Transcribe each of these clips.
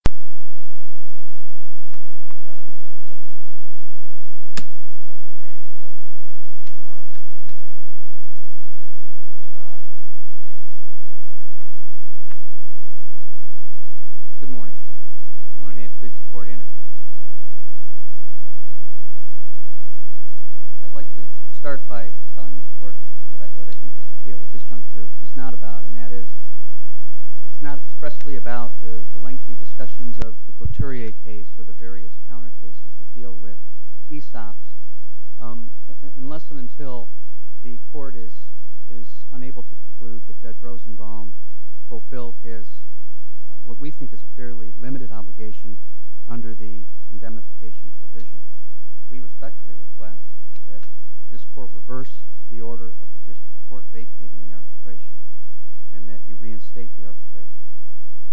Good morning. I'd like to start by telling the court what I think this deal with this discussions of the Coturier case or the various counter cases that deal with ESOPs. Unless and until the court is unable to conclude that Judge Rosenbaum fulfilled his, what we think is a fairly limited obligation under the indemnification provision, we respectfully request that this court reverse the order of the district court vacating the arbitration and that you reinstate the arbitration.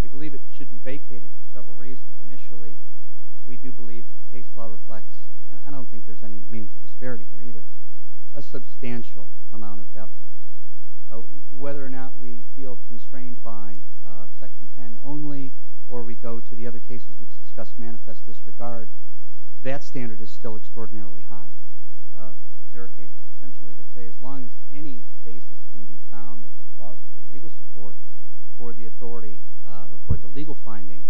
We believe it should be vacated for several reasons. Initially, we do believe that the case law reflects, and I don't think there's any meaningful disparity here either, a substantial amount of deference. Whether or not we feel constrained by Section 10 only or we go to the other cases which discuss manifest disregard, that standard is still extraordinarily high. There are cases essentially that say as long as any basis can be found as a plausible legal support for the authority or for the legal finding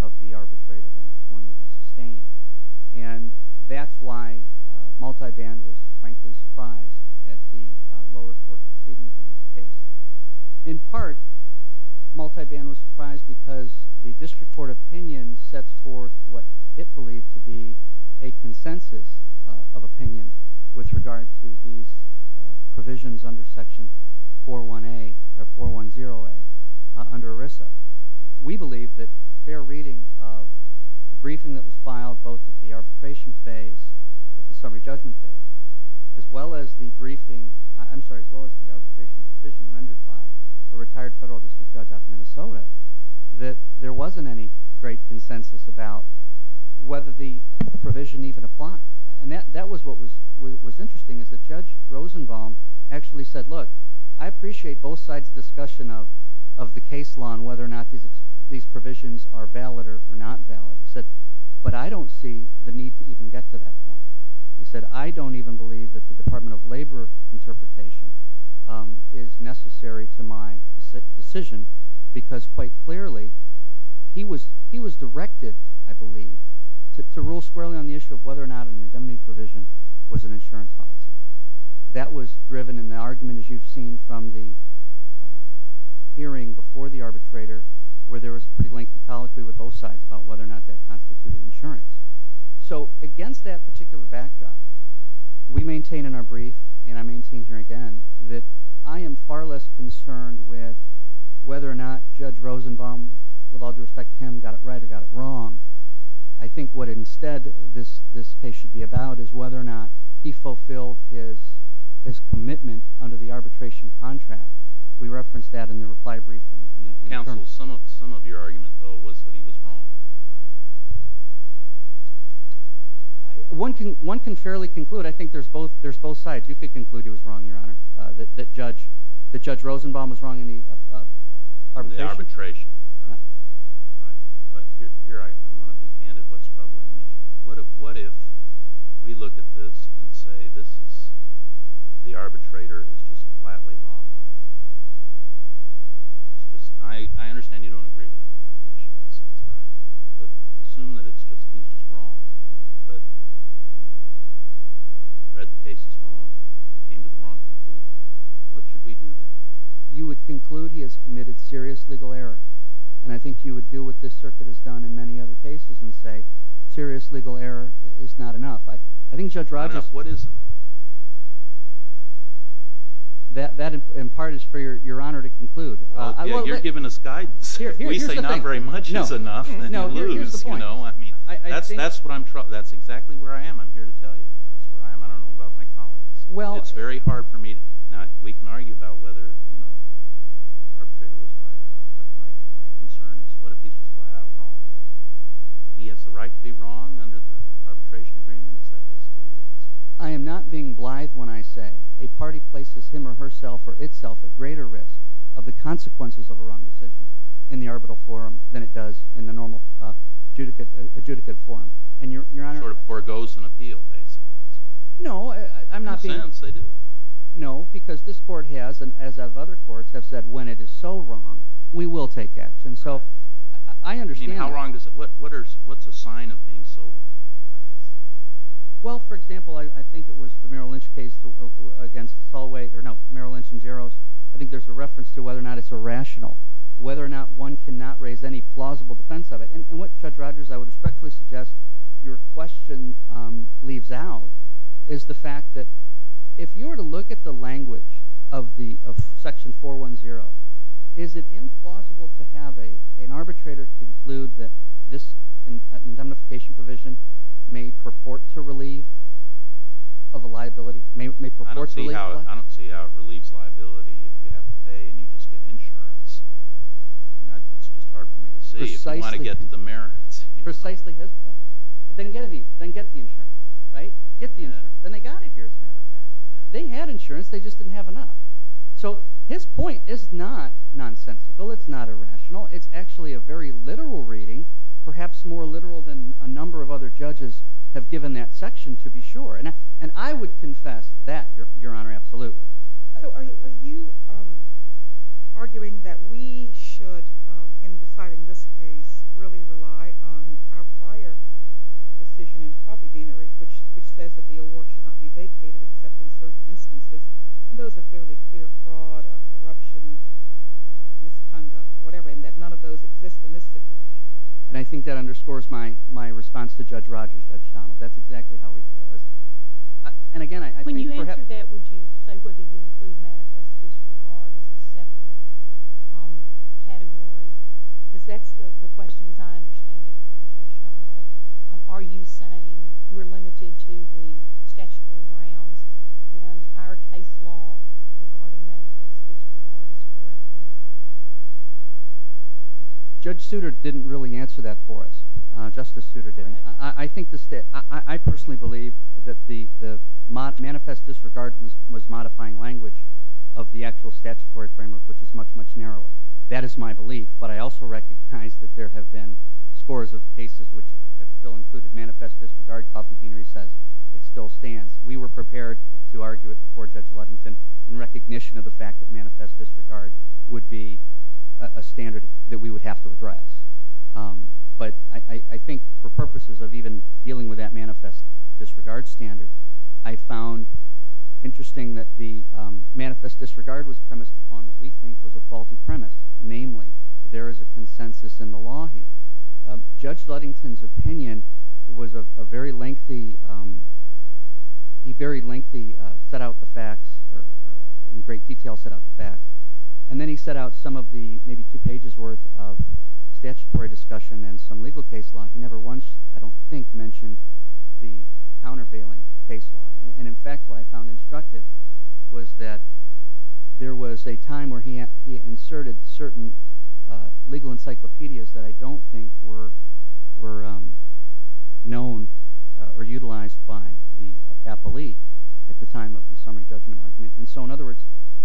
of the arbitrator, then it's going to be sustained. And that's why Multiband was frankly surprised at the lower court proceedings in this case. In part, Multiband was surprised because the district court opinion sets forth what it believed to be a consensus of opinion with regard to these provisions under Section 410A under ERISA. We believe that a fair reading of the briefing that was filed both at the arbitration phase, at the summary judgment phase, as well as the arbitration decision rendered by a retired federal district judge out of Minnesota, that there wasn't any great consensus about whether the provision even applied. That was what was interesting is that Judge Rosenbaum actually said, look, I appreciate both sides' discussion of the case law and whether or not these provisions are valid or not valid. He said, but I don't see the need to even get to that point. He said, I don't even believe that the Department of Labor interpretation is necessary to my decision because quite clearly he was directed, I believe, to rule squarely on the issue of whether or not an indemnity provision was an insurance policy. That was driven in the argument, as you've seen from the hearing before the arbitrator, where there was a pretty lengthy colloquy with both sides about whether or not that constituted insurance. So against that particular backdrop, we maintain in our brief, and I maintain here again, that I am far less concerned with whether or not Judge Rosenbaum, with all due respect to him, got it right or got it wrong. I think what instead this case should be about is whether or not he fulfilled his commitment under the arbitration contract. We referenced that in the reply brief. Counsel, some of your argument, though, was that he was wrong. One can fairly conclude. I think there's both sides. You could conclude he was wrong, Your Honor, that Judge Rosenbaum was wrong in the arbitration. In the arbitration, right. But here I want to be candid what's troubling me. What if we look at this and say this is – the arbitrator is just flatly wrong? It's just – I understand you don't agree with it, which is right. But assume that it's just he's just wrong. But he read the cases wrong and came to the wrong conclusion. What should we do then? You would conclude he has committed serious legal error. And I think you would do what this circuit has done in many other cases and say serious legal error is not enough. I think Judge Rogers – What is enough? That, in part, is for Your Honor to conclude. You're giving us guidance. If we say not very much is enough, then you lose. That's what I'm – that's exactly where I am. I'm here to tell you. That's where I am. I don't know about my colleagues. It's very hard for me – now, we can argue about whether the arbitrator was right or not. But my concern is what if he's just flat-out wrong? If he has the right to be wrong under the arbitration agreement, is that basically the answer? I am not being blithe when I say a party places him or herself or itself at greater risk of the consequences of a wrong decision in the arbitral forum than it does in the normal adjudicate forum. And Your Honor – Sort of forgoes an appeal, basically. No, I'm not being – In a sense, they do. No, because this court has, and as have other courts, have said when it is so wrong, we will take action. So I understand – You mean how wrong does it – what's a sign of being so wrong, I guess? Well, for example, I think it was the Merrill Lynch case against Solway – or no, Merrill Lynch and Jaros. I think there's a reference to whether or not it's irrational, whether or not one cannot raise any plausible defense of it. And what, Judge Rogers, I would respectfully suggest your question leaves out is the fact that if you were to look at the language of Section 410, is it implausible to have an arbitrator conclude that this indemnification provision may purport to relieve of a liability? I don't see how it relieves liability if you have to pay and you just get insurance. It's just hard for me to see if you want to get the merits. Precisely his point. Then get the insurance, right? Get the insurance. Then they got it here, as a matter of fact. They had insurance, they just didn't have enough. So his point is not nonsensical. It's not irrational. It's actually a very literal reading, perhaps more literal than a number of other judges have given that section, to be sure. And I would confess that, Your Honor, absolutely. So are you arguing that we should, in deciding this case, really rely on our prior decision in Coffee Beanery, which says that the award should not be vacated except in certain instances, and those are fairly clear fraud or corruption, misconduct or whatever, and that none of those exist in this situation? And I think that underscores my response to Judge Rogers, Judge Donald. That's exactly how we feel. When you answer that, would you say whether you include manifest disregard as a separate category? Because that's the question, as I understand it, from Judge Donald. Are you saying we're limited to the statutory grounds and our case law regarding manifest disregard is correct? Judge Souter didn't really answer that for us. Justice Souter didn't. I personally believe that the manifest disregard was modifying language of the actual statutory framework, which is much, much narrower. That is my belief, but I also recognize that there have been scores of cases which have still included manifest disregard. Coffee Beanery says it still stands. We were prepared to argue it before Judge Ludington in recognition of the fact that manifest disregard would be a standard that we would have to address. But I think for purposes of even dealing with that manifest disregard standard, I found interesting that the manifest disregard was premised upon what we think was a faulty premise, namely that there is a consensus in the law here. Judge Ludington's opinion was a very lengthy – he very lengthy set out the facts, or in great detail set out the facts. And then he set out some of the maybe two pages' worth of statutory discussion and some legal case law. He never once, I don't think, mentioned the countervailing case law. And, in fact, what I found instructive was that there was a time where he inserted certain legal encyclopedias that I don't think were known or utilized by the appellee at the time of the summary judgment argument. And so, in other words,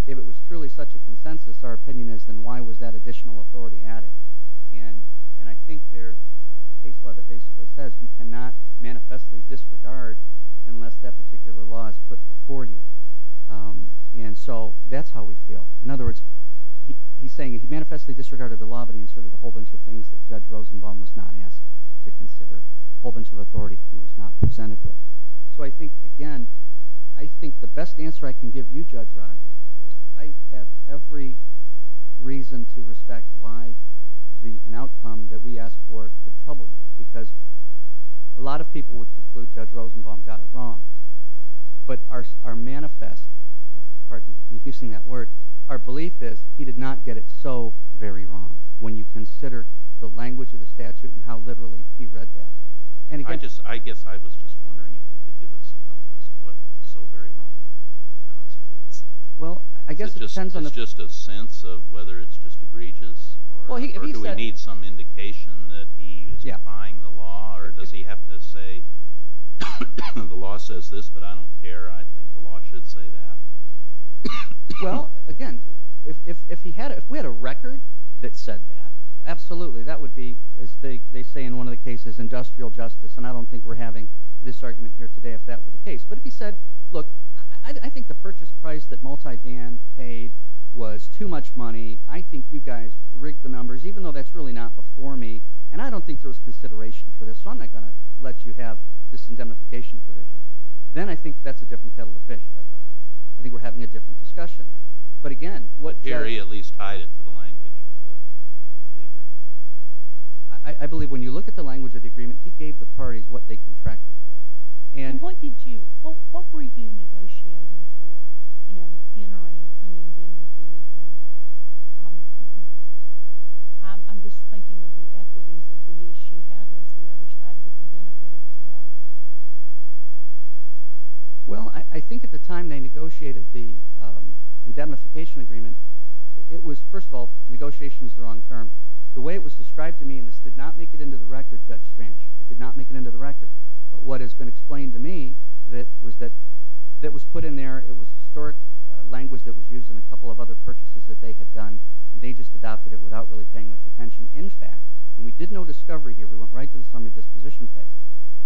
if it was truly such a consensus, our opinion is then why was that additional authority added? And I think there's a case law that basically says you cannot manifestly disregard unless that particular law is put before you. And so that's how we feel. In other words, he's saying he manifestly disregarded the law, but he inserted a whole bunch of things that Judge Rosenbaum was not asked to consider, a whole bunch of authority he was not presented with. So I think, again, I think the best answer I can give you, Judge Rogers, is I have every reason to respect why an outcome that we ask for could trouble you. Because a lot of people would conclude Judge Rosenbaum got it wrong. But our manifest – pardon me for confusing that word – our belief is he did not get it so very wrong when you consider the language of the statute and how literally he read that. I guess I was just wondering if you could give us some help as to what so very wrong constitutes. It's just a sense of whether it's just egregious, or do we need some indication that he is defying the law, or does he have to say the law says this, but I don't care. I think the law should say that. Well, again, if we had a record that said that, absolutely. That would be, as they say in one of the cases, industrial justice, and I don't think we're having this argument here today if that were the case. But if he said, look, I think the purchase price that multiband paid was too much money. I think you guys rigged the numbers, even though that's really not before me, and I don't think there was consideration for this, so I'm not going to let you have this indemnification provision. Then I think that's a different kettle of fish, Judge Rogers. I think we're having a different discussion. But again, what – Jerry at least tied it to the language of the agreement. I believe when you look at the language of the agreement, he gave the parties what they contracted for. And what did you – what were you negotiating for in entering an indemnification agreement? I'm just thinking of the equities of the issue. How does the other side get the benefit of this bargain? Well, I think at the time they negotiated the indemnification agreement, it was – first of all, negotiation is the wrong term. The way it was described to me, and this did not make it into the record, Judge Stranch, it did not make it into the record. But what has been explained to me was that it was put in there, it was historic language that was used in a couple of other purchases that they had done, and they just adopted it without really paying much attention. In fact, and we did no discovery here. We went right to the summary disposition phase.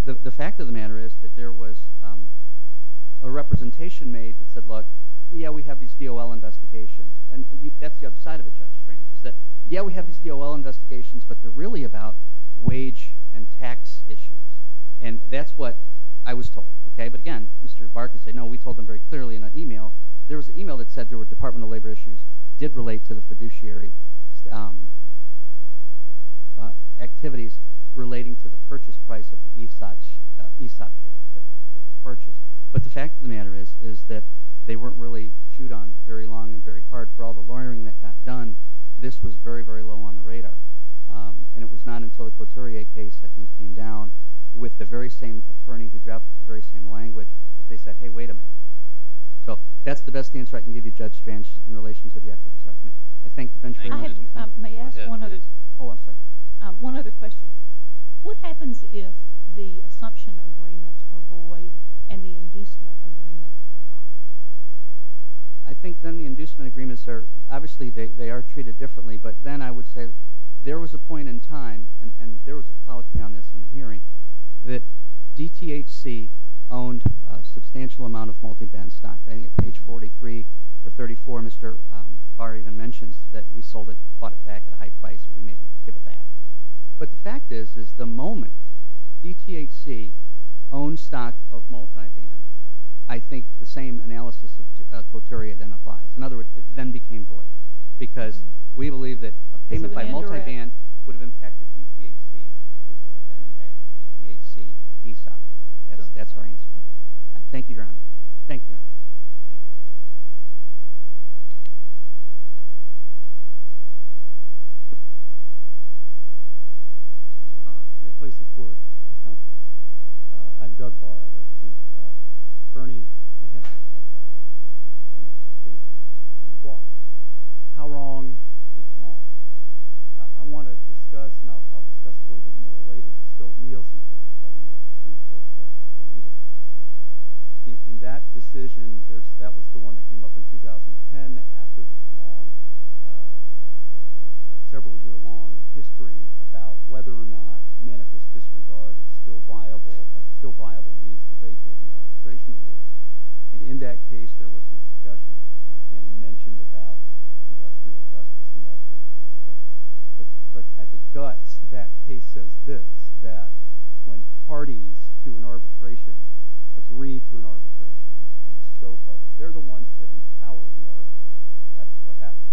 The fact of the matter is that there was a representation made that said, look, yeah, we have these DOL investigations. And that's the other side of it, Judge Stranch, is that, yeah, we have these DOL investigations, but they're really about wage and tax issues. And that's what I was told. But again, Mr. Barker said, no, we told them very clearly in an email. There was an email that said there were Department of Labor issues that did relate to the fiduciary activities relating to the purchase price of the ESOP shares that were purchased. But the fact of the matter is that they weren't really chewed on very long and very hard. For all the lawyering that got done, this was very, very low on the radar. And it was not until the Couturier case, I think, came down with the very same attorney who dropped the very same language that they said, hey, wait a minute. So that's the best answer I can give you, Judge Stranch, in relation to the equity assessment. I thank the bench for your time. May I ask one other – oh, I'm sorry. One other question. What happens if the assumption agreements are void and the inducement agreements are not? I think then the inducement agreements are – obviously, they are treated differently. But then I would say there was a point in time, and there was a policy on this in the hearing, that DTHC owned a substantial amount of multiband stock. I think at page 43 or 34, Mr. Barr even mentions that we sold it, bought it back at a high price and we may give it back. But the fact is, is the moment DTHC owned stock of multiband, I think the same analysis of Couturier then applies. In other words, it then became void because we believe that a payment by multiband would have impacted DTHC, which would have then impacted DTHC ESOP. That's our answer. Thank you, Your Honor. Thank you, Your Honor. Thank you. Your Honor, may it please the Court. I'm Doug Barr. I represent Bernie Maheny. How wrong is wrong? I want to discuss – and I'll discuss a little bit more later – the Stolt-Nielsen case by the U.S. Supreme Court. In that decision, that was the one that came up in 2010 after this long, several-year-long history about whether or not manifest disregard is still viable means for vacating an arbitration award. And in that case, there was a discussion, as you mentioned, about industrial justice and that sort of thing. But at the guts, that case says this, that when parties to an arbitration agree to an arbitration and the scope of it, they're the ones that empower the arbitrator. That's what happens.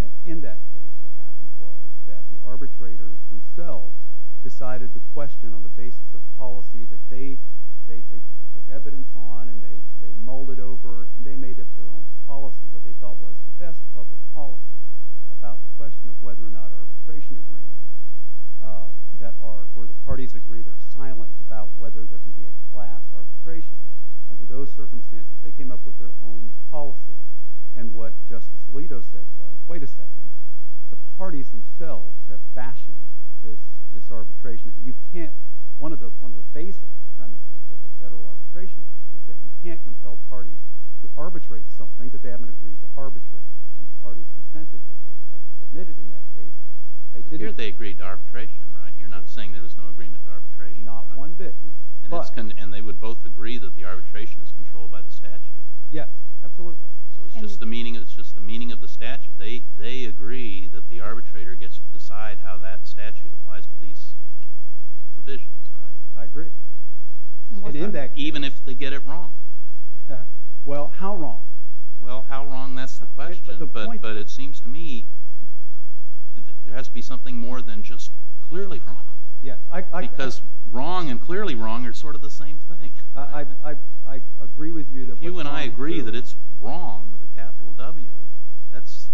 And in that case, what happened was that the arbitrators themselves decided to question on the basis of policy that they took evidence on and they mulled it over and they made up their own policy, what they thought was the best public policy, about the question of whether or not arbitration agreements that are – where the parties agree they're silent about whether there can be a class arbitration. Under those circumstances, they came up with their own policy. And what Justice Alito said was, wait a second, the parties themselves have fashioned this arbitration. One of the basic premises of the federal arbitration act is that you can't compel parties to arbitrate something that they haven't agreed to arbitrate. And the parties consented to it or admitted in that case. But here they agreed to arbitration. You're not saying there was no agreement to arbitration. Not one bit. And they would both agree that the arbitration is controlled by the statute. Yeah, absolutely. So it's just the meaning of the statute. They agree that the arbitrator gets to decide how that statute applies to these provisions. I agree. Even if they get it wrong. Well, how wrong? Well, how wrong, that's the question. But it seems to me there has to be something more than just clearly wrong. Because wrong and clearly wrong are sort of the same thing. I agree with you. If you and I agree that it's wrong with a capital W, that's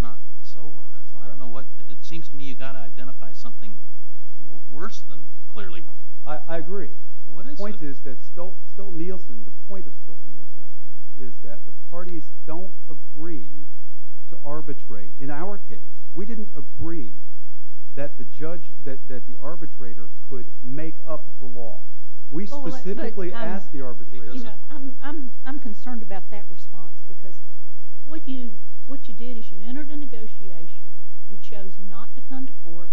not so wrong. So I don't know what, it seems to me you've got to identify something worse than clearly wrong. I agree. What is it? The point is that Stolt-Nielsen, the point of Stolt-Nielsen, I think, is that the parties don't agree to arbitrate. In our case, we didn't agree that the arbitrator could make up the law. We specifically asked the arbitrator. I'm concerned about that response because what you did is you entered a negotiation, you chose not to come to court,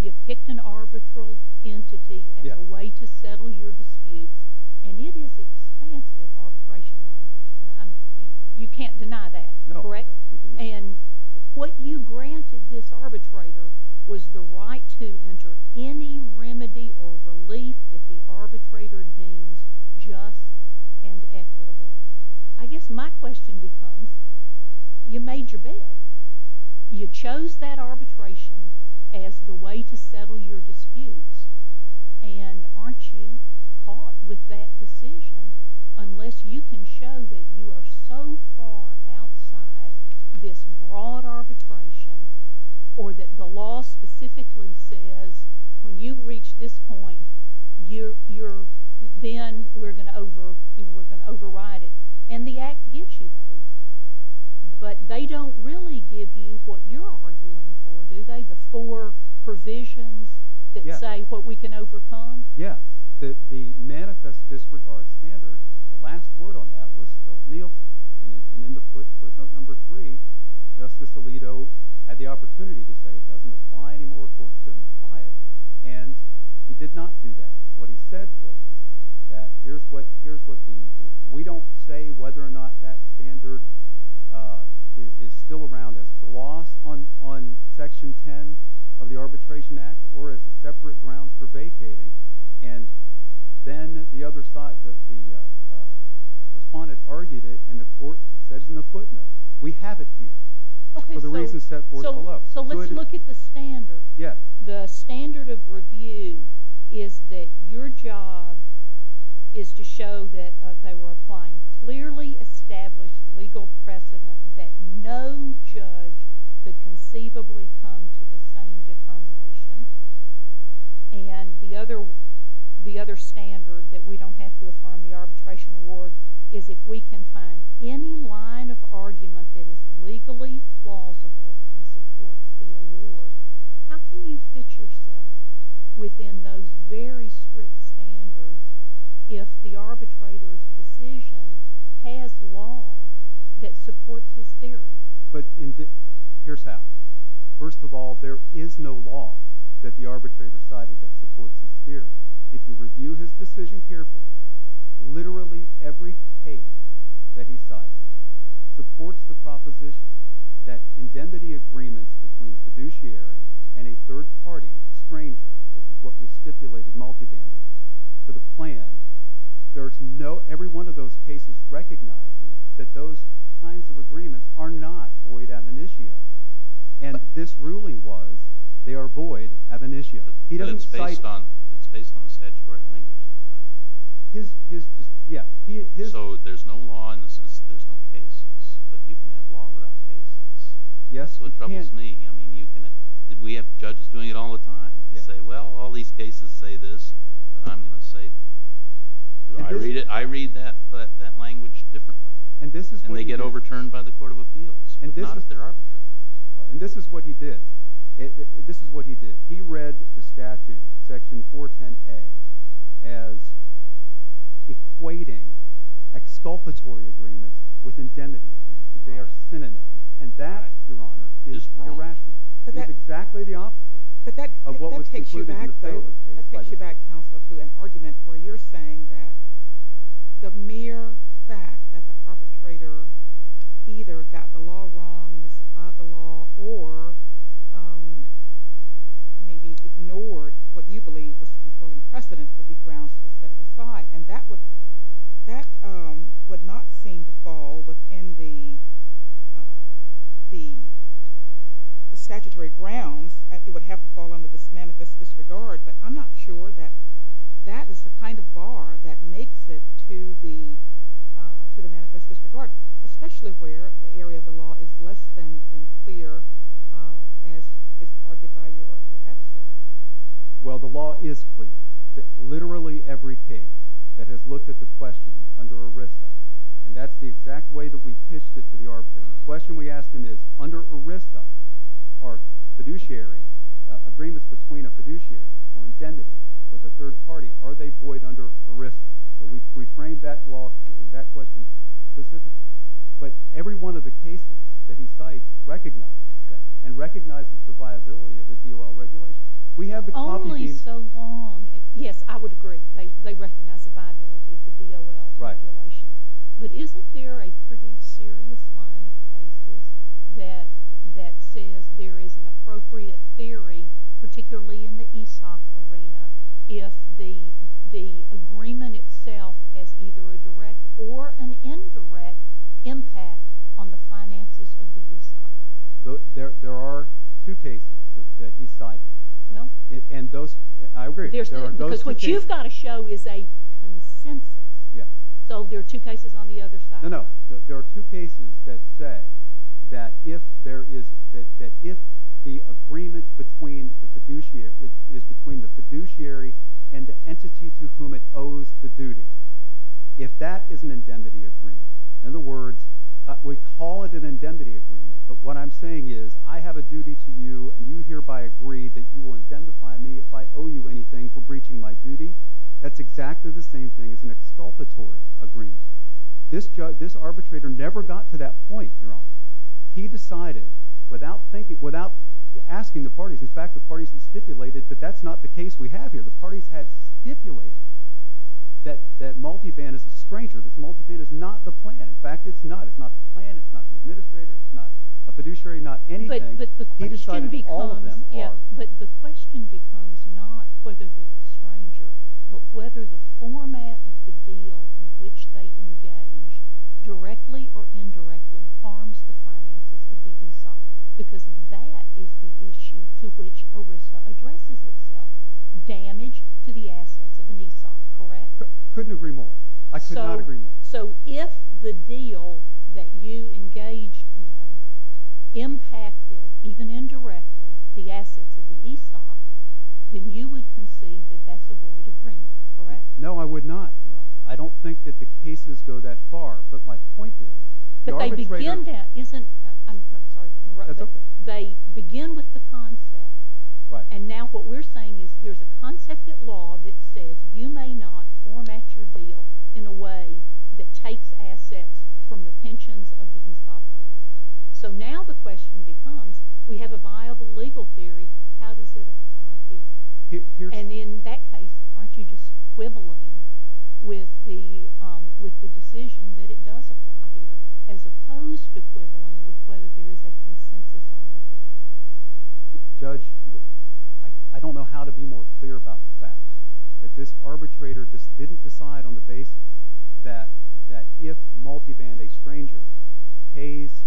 you picked an arbitral entity as a way to settle your disputes, and it is expansive arbitration language. You can't deny that, correct? No. And what you granted this arbitrator was the right to enter any remedy or relief that the arbitrator deems just and equitable. I guess my question becomes you made your bed. You chose that arbitration as the way to settle your disputes, and aren't you caught with that decision unless you can show that you are so far outside this broad arbitration or that the law specifically says when you reach this point, then we're going to override it. And the Act gives you those, but they don't really give you what you're arguing for, do they, the four provisions that say what we can overcome? Yes. The manifest disregard standard, the last word on that was Stolt-Nielsen, and in the footnote number three, Justice Alito had the opportunity to say it doesn't apply anymore, court shouldn't apply it, and he did not do that. What he said was that we don't say whether or not that standard is still around as the loss on Section 10 of the Arbitration Act or as a separate ground for vacating, and then the other side, the respondent argued it, and the court says in the footnote we have it here for the reasons set forth below. So let's look at the standard. Yes. The standard of review is that your job is to show that they were applying clearly established legal precedent that no judge could conceivably come to the same determination, and the other standard that we don't have to affirm the arbitration award is if we can find any line of argument that is legally plausible and supports the award. How can you fit yourself within those very strict standards if the arbitrator's decision has law that supports his theory? Here's how. First of all, there is no law that the arbitrator cited that supports his theory. If you review his decision carefully, literally every page that he cited supports the proposition that indemnity agreements between a fiduciary and a third-party stranger, which is what we stipulated multibanded, to the plan, every one of those cases recognizes that those kinds of agreements are not void ab initio, and this ruling was they are void ab initio. But it's based on the statutory language, right? Yeah. So there's no law in the sense that there's no cases, but you can have law without cases. That's what troubles me. We have judges doing it all the time. They say, well, all these cases say this, but I'm going to say, do I read it? I read that language differently, and they get overturned by the court of appeals, not if they're arbitrary. And this is what he did. This is what he did. He read the statute, Section 410A, as equating exculpatory agreements with indemnity agreements, that they are synonyms, and that, Your Honor, is irrational. It's exactly the opposite of what was concluded in the previous case. But that takes you back, though. That takes you back, Counselor, to an argument where you're saying that the mere fact that the arbitrator either got the law wrong, misapplied the law, or maybe ignored what you believe was the controlling precedent would be grounds to set it aside. And that would not seem to fall within the statutory grounds. It would have to fall under this manifest disregard. But I'm not sure that that is the kind of bar that makes it to the manifest disregard, especially where the area of the law is less than clear as is argued by your adversary. Well, the law is clear. Literally every case that has looked at the question under ERISA, and that's the exact way that we pitched it to the arbitrator, the question we asked him is, under ERISA are agreements between a fiduciary or indemnity with a third party, are they void under ERISA? So we framed that question specifically. But every one of the cases that he cites recognizes that and recognizes the viability of the DOL regulation. Only so long. Yes, I would agree. They recognize the viability of the DOL regulation. But isn't there a pretty serious line of cases that says there is an appropriate theory, particularly in the ESOP arena, if the agreement itself has either a direct or an indirect impact on the finances of the ESOP? There are two cases that he cited. And those, I agree, there are those two cases. Because what you've got to show is a consensus. Yes. So there are two cases on the other side. No, no. There are two cases that say that if the agreement is between the fiduciary and the entity to whom it owes the duty, if that is an indemnity agreement, in other words, we call it an indemnity agreement, but what I'm saying is I have a duty to you and you hereby agree that you will indemnify me if I owe you anything for breaching my duty, that's exactly the same thing as an exculpatory agreement. This arbitrator never got to that point, Your Honor. He decided, without asking the parties, in fact, the parties had stipulated that that's not the case we have here. The parties had stipulated that multiband is a stranger, that multiband is not the plan. In fact, it's not. It's not the plan. It's not the administrator. It's not a fiduciary. Not anything. He decided all of them are. But the question becomes not whether they're a stranger, but whether the format of the deal in which they engage directly or indirectly harms the finances of the ESOP, because that is the issue to which ERISA addresses itself, damage to the assets of an ESOP, correct? I couldn't agree more. I could not agree more. So if the deal that you engaged in impacted, even indirectly, the assets of the ESOP, then you would concede that that's a void agreement, correct? No, I would not, Your Honor. I don't think that the cases go that far. But my point is the arbitrator – But they begin – I'm sorry to interrupt. That's okay. They begin with the concept. Right. And now what we're saying is there's a concept at law that says you may not format your deal in a way that takes assets from the pensions of the ESOP holders. So now the question becomes we have a viable legal theory. How does it apply here? And in that case, aren't you just quibbling with the decision that it does apply here as opposed to quibbling with whether there is a consensus on the theory? Judge, I don't know how to be more clear about the fact that this arbitrator just didn't decide on the basis that if multiband a stranger pays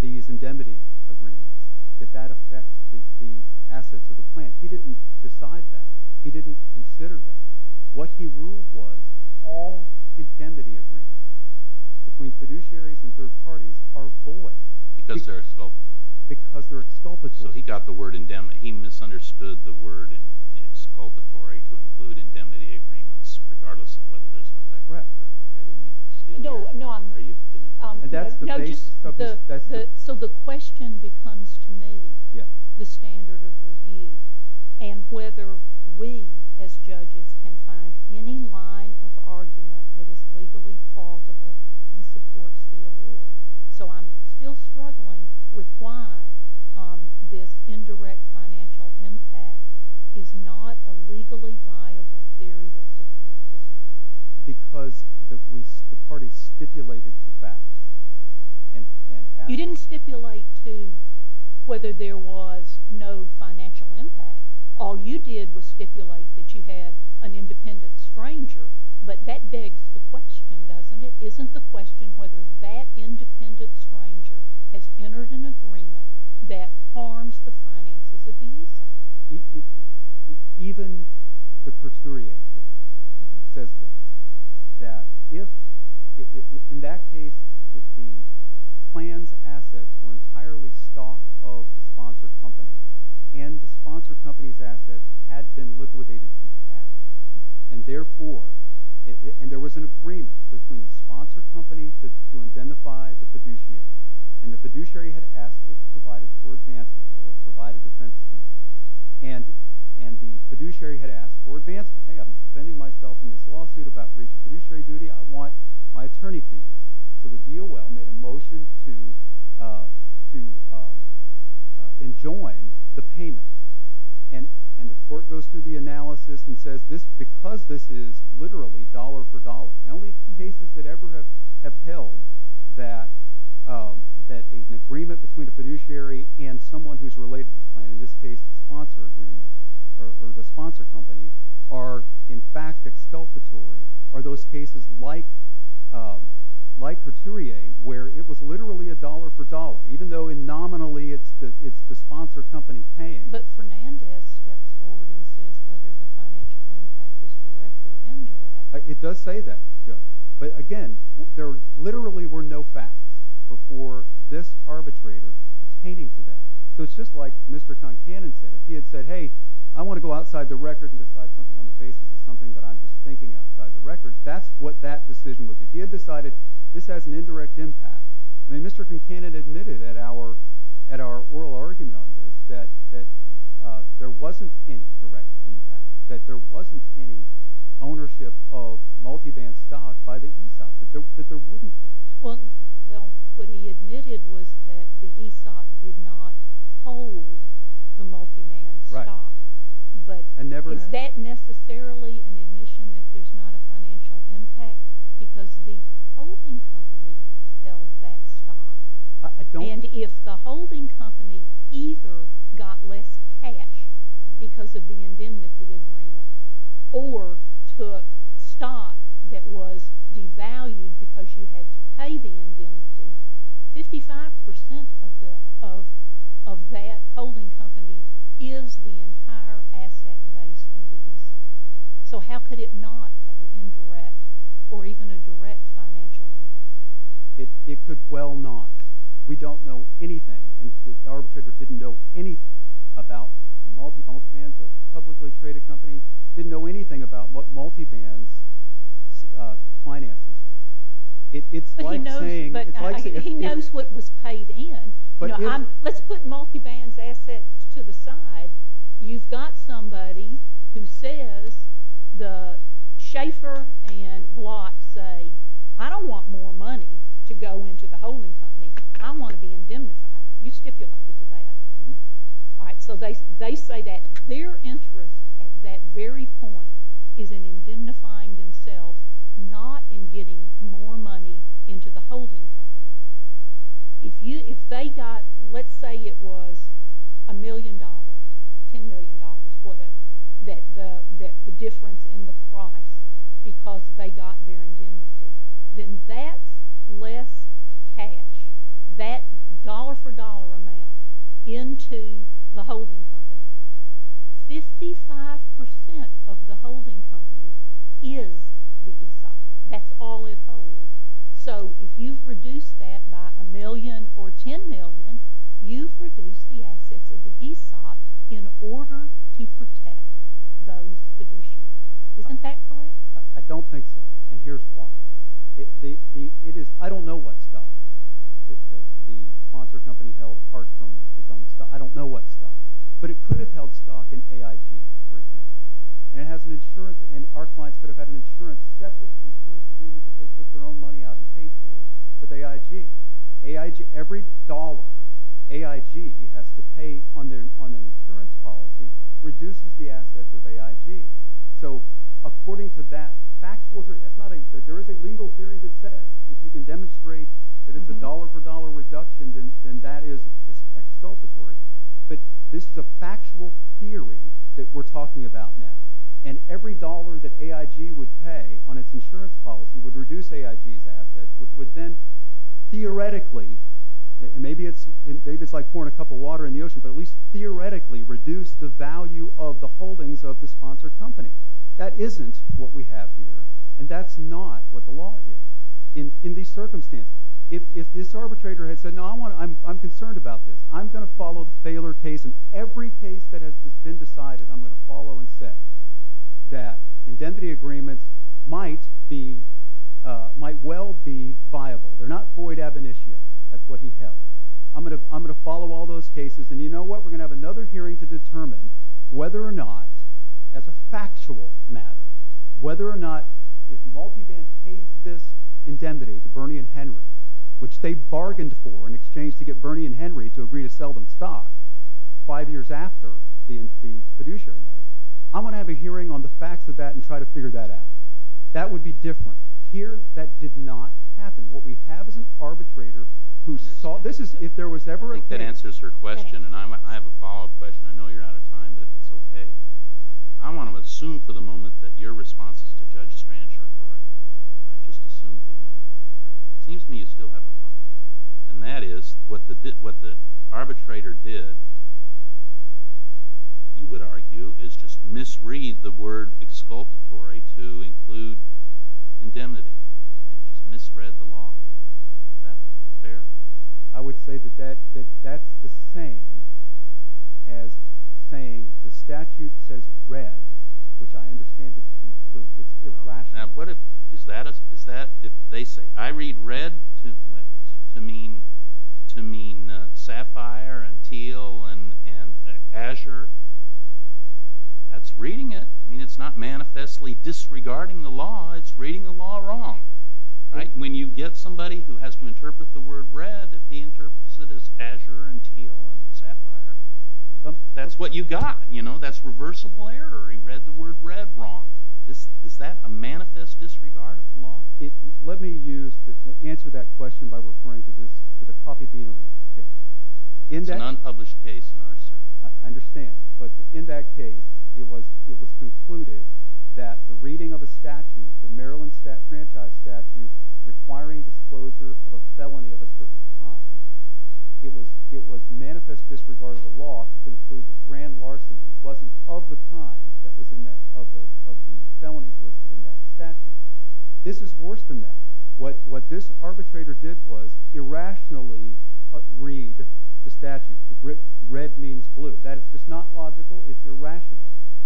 these indemnity agreements, that that affects the assets of the plant. He didn't decide that. He didn't consider that. What he ruled was all indemnity agreements between fiduciaries and third parties are void. Because they're exculpatory. Because they're exculpatory. So he got the word indemnity – he misunderstood the word exculpatory to include indemnity agreements regardless of whether there's an effect. So the question becomes to me the standard of review and whether we as judges can find any line of argument that is legally plausible and supports the award. So I'm still struggling with why this indirect financial impact is not a legally viable theory that supports this agreement. Because the party stipulated the fact. You didn't stipulate to whether there was no financial impact. All you did was stipulate that you had an independent stranger. But that begs the question, doesn't it? Isn't the question whether that independent stranger has entered an agreement that harms the finances of the ESA? Even the Courtier case says this, that in that case the plant's assets were entirely stock of the sponsor company and the sponsor company's assets had been liquidated to cash. And therefore – and there was an agreement between the sponsor company to identify the fiduciary. And the fiduciary had asked if it provided for advancement or provided defense to me. And the fiduciary had asked for advancement. Hey, I'm defending myself in this lawsuit about breach of fiduciary duty. I want my attorney fees. So the DOL made a motion to enjoin the payment. And the court goes through the analysis and says, because this is literally dollar for dollar, the only cases that ever have held that an agreement between a fiduciary and someone who's related to the plant, in this case the sponsor agreement or the sponsor company, are in fact exculpatory are those cases like Courtier where it was literally a dollar for dollar, even though nominally it's the sponsor company paying. But Fernandez steps forward and says whether the financial impact is direct or indirect. It does say that, Judge. But again, there literally were no facts before this arbitrator pertaining to that. So it's just like Mr. Concanon said. If he had said, hey, I want to go outside the record and decide something on the basis of something that I'm just thinking outside the record, that's what that decision would be. If he had decided this has an indirect impact – I mean, Mr. Concanon admitted at our oral argument on this that there wasn't any direct impact, that there wasn't any ownership of multiband stock by the ESOP, that there wouldn't be. Well, what he admitted was that the ESOP did not hold the multiband stock. Is that necessarily an admission that there's not a financial impact? Because the holding company held that stock. And if the holding company either got less cash because of the indemnity agreement or took stock that was devalued because you had to pay the indemnity, 55 percent of that holding company is the entire asset base of the ESOP. So how could it not have an indirect or even a direct financial impact? It could well not. We don't know anything, and the arbitrator didn't know anything about multiband. The publicly traded company didn't know anything about what multiband's finances were. It's like saying – He knows what was paid in. Let's put multiband's assets to the side. You've got somebody who says the Schaeffer and Blatt say, I don't want more money to go into the holding company. I want to be indemnified. You stipulated that. So they say that their interest at that very point is in indemnifying themselves, not in getting more money into the holding company. If they got – let's say it was $1 million, $10 million, whatever, the difference in the price because they got their indemnity, then that's less cash, that dollar-for-dollar amount into the holding company. Fifty-five percent of the holding company is the ESOP. That's all it holds. So if you've reduced that by $1 million or $10 million, you've reduced the assets of the ESOP in order to protect those fiduciaries. Isn't that correct? I don't think so, and here's why. I don't know what stock the sponsor company held apart from its own stock. I don't know what stock. But it could have held stock in AIG, for example. And it has an insurance – and our clients could have had an insurance – a separate insurance agreement that they took their own money out and paid for with AIG. Every dollar AIG has to pay on an insurance policy reduces the assets of AIG. So according to that factual – there is a legal theory that says if you can demonstrate that it's a dollar-for-dollar reduction, then that is exculpatory. But this is a factual theory that we're talking about now. And every dollar that AIG would pay on its insurance policy would reduce AIG's assets, which would then theoretically – and maybe it's like pouring a cup of water in the ocean – but at least theoretically reduce the value of the holdings of the sponsor company. That isn't what we have here, and that's not what the law is in these circumstances. If this arbitrator had said, no, I'm concerned about this, I'm going to follow the Baylor case, and every case that has been decided I'm going to follow and say that indemnity agreements might well be viable. They're not void ab initio. That's what he held. I'm going to follow all those cases, and you know what? We're going to have another hearing to determine whether or not, as a factual matter, whether or not if Multiband pays this indemnity to Bernie and Henry, which they bargained for in exchange to get Bernie and Henry to agree to sell them stock five years after the fiduciary matter, I'm going to have a hearing on the facts of that and try to figure that out. That would be different. Here that did not happen. What we have is an arbitrator who saw – if there was ever a – I think that answers her question, and I have a follow-up question. I know you're out of time, but if it's okay. I want to assume for the moment that your responses to Judge Stranch are correct. I just assume for the moment that they're correct. It seems to me you still have a problem, and that is what the arbitrator did, you would argue, is just misread the word exculpatory to include indemnity. He just misread the law. Is that fair? I would say that that's the same as saying the statute says read, which I understand it to be – it's irrational. Is that if they say I read read to mean Sapphire and Teal and Azure? That's reading it. It's not manifestly disregarding the law. It's reading the law wrong. When you get somebody who has to interpret the word read, if he interprets it as Azure and Teal and Sapphire, that's what you've got. That's reversible error. He read the word read wrong. Is that a manifest disregard of the law? Let me answer that question by referring to the Coffee Beanery case. It's an unpublished case in our circuit. I understand, but in that case it was concluded that the reading of a statute, the Maryland Franchise Statute requiring disclosure of a felony of a certain crime, it was manifest disregard of the law to conclude that grand larceny wasn't of the kind that was in that – of the felonies listed in that statute. This is worse than that. What this arbitrator did was irrationally read the statute. The red means blue. That is just not logical. It's irrational.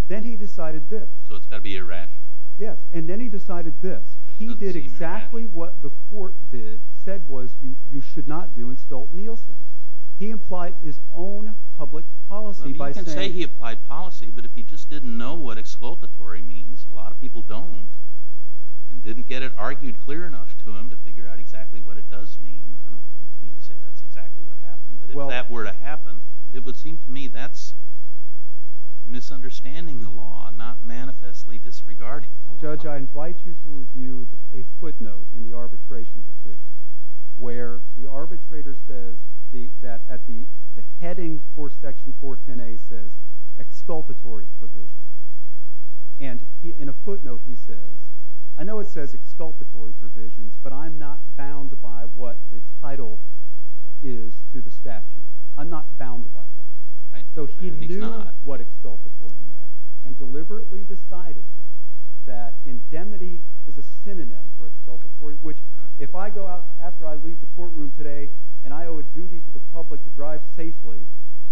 Then he decided this. So it's got to be irrational. Yes, and then he decided this. He did exactly what the court said was you should not do in Stolt-Nielsen. He implied his own public policy by saying – You can say he applied policy, but if he just didn't know what exculpatory means, a lot of people don't, and didn't get it argued clear enough to him to figure out exactly what it does mean, I don't mean to say that's exactly what happened, but if that were to happen, it would seem to me that's misunderstanding the law, not manifestly disregarding the law. Judge, I invite you to review a footnote in the arbitration decision where the arbitrator says that at the heading for Section 410A says exculpatory provisions, and in a footnote he says, I know it says exculpatory provisions, but I'm not bound by what the title is to the statute. I'm not bound by that. So he knew what exculpatory meant and deliberately decided that indemnity is a synonym for exculpatory, which if I go out after I leave the courtroom today and I owe a duty to the public to drive safely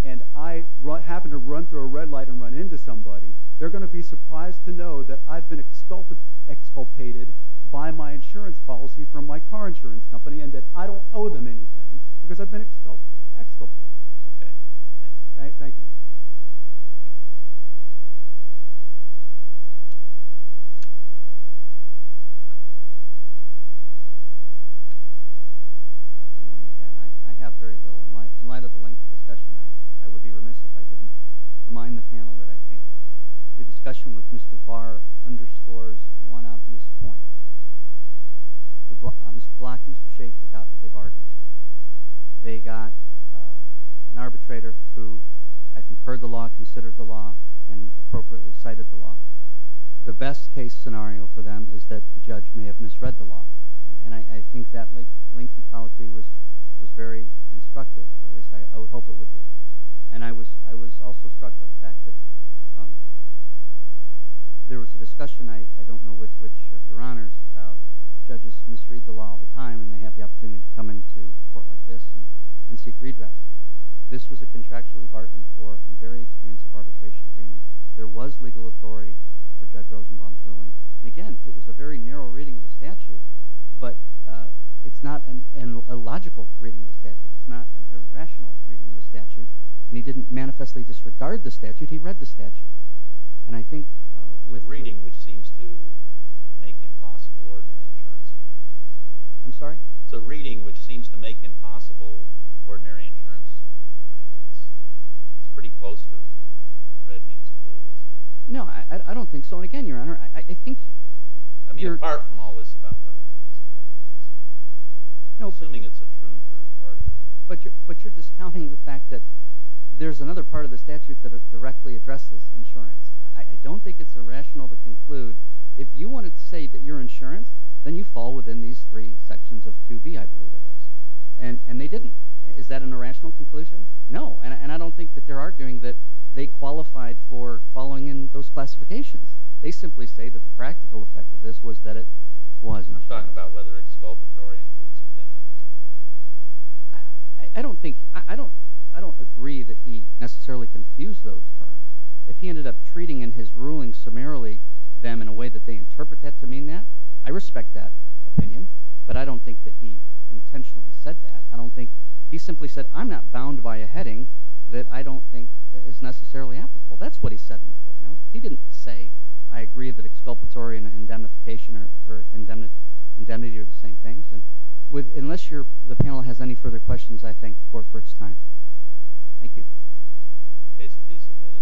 and I happen to run through a red light and run into somebody, they're going to be surprised to know that I've been exculpated by my insurance policy from my car insurance company and that I don't owe them anything because I've been exculpated. Okay. Thank you. Thank you. Good morning again. I have very little. In light of the length of the discussion, I would be remiss if I didn't remind the panel that I think the discussion with Mr. Barr underscores one obvious point. Mr. Block and Mr. Shaffer got that they bargained. They got an arbitrator who I think heard the law, considered the law, and appropriately cited the law. The best case scenario for them is that the judge may have misread the law, and I think that lengthy policy was very instructive, or at least I would hope it would be. And I was also struck by the fact that there was a discussion, I don't know with which of your honors, about judges misread the law all the time and they have the opportunity to come into a court like this and seek redress. This was a contractually bargained for and very expansive arbitration agreement. There was legal authority for Judge Rosenbaum's ruling. And again, it was a very narrow reading of the statute, but it's not a logical reading of the statute. It's not an irrational reading of the statute. And he didn't manifestly disregard the statute. He read the statute. It's a reading which seems to make impossible ordinary insurance. I'm sorry? It's a reading which seems to make impossible ordinary insurance. It's pretty close to red means blue, isn't it? No, I don't think so. And again, Your Honor, I think you're— I mean, apart from all this about whether it is a third party. Assuming it's a true third party. But you're discounting the fact that there's another part of the statute that directly addresses insurance. I don't think it's irrational to conclude if you wanted to say that you're insurance, then you fall within these three sections of 2B, I believe it is. And they didn't. Is that an irrational conclusion? No, and I don't think that they're arguing that they qualified for following in those classifications. They simply say that the practical effect of this was that it wasn't. You're talking about whether exculpatory includes indemnity. I don't think—I don't agree that he necessarily confused those terms. If he ended up treating in his ruling summarily them in a way that they interpret that to mean that, I respect that opinion, but I don't think that he intentionally said that. He simply said, I'm not bound by a heading that I don't think is necessarily applicable. That's what he said in the footnote. He didn't say, I agree that exculpatory and indemnification or indemnity are the same things. Unless the panel has any further questions, I thank the Court for its time. Thank you. Case please submitted.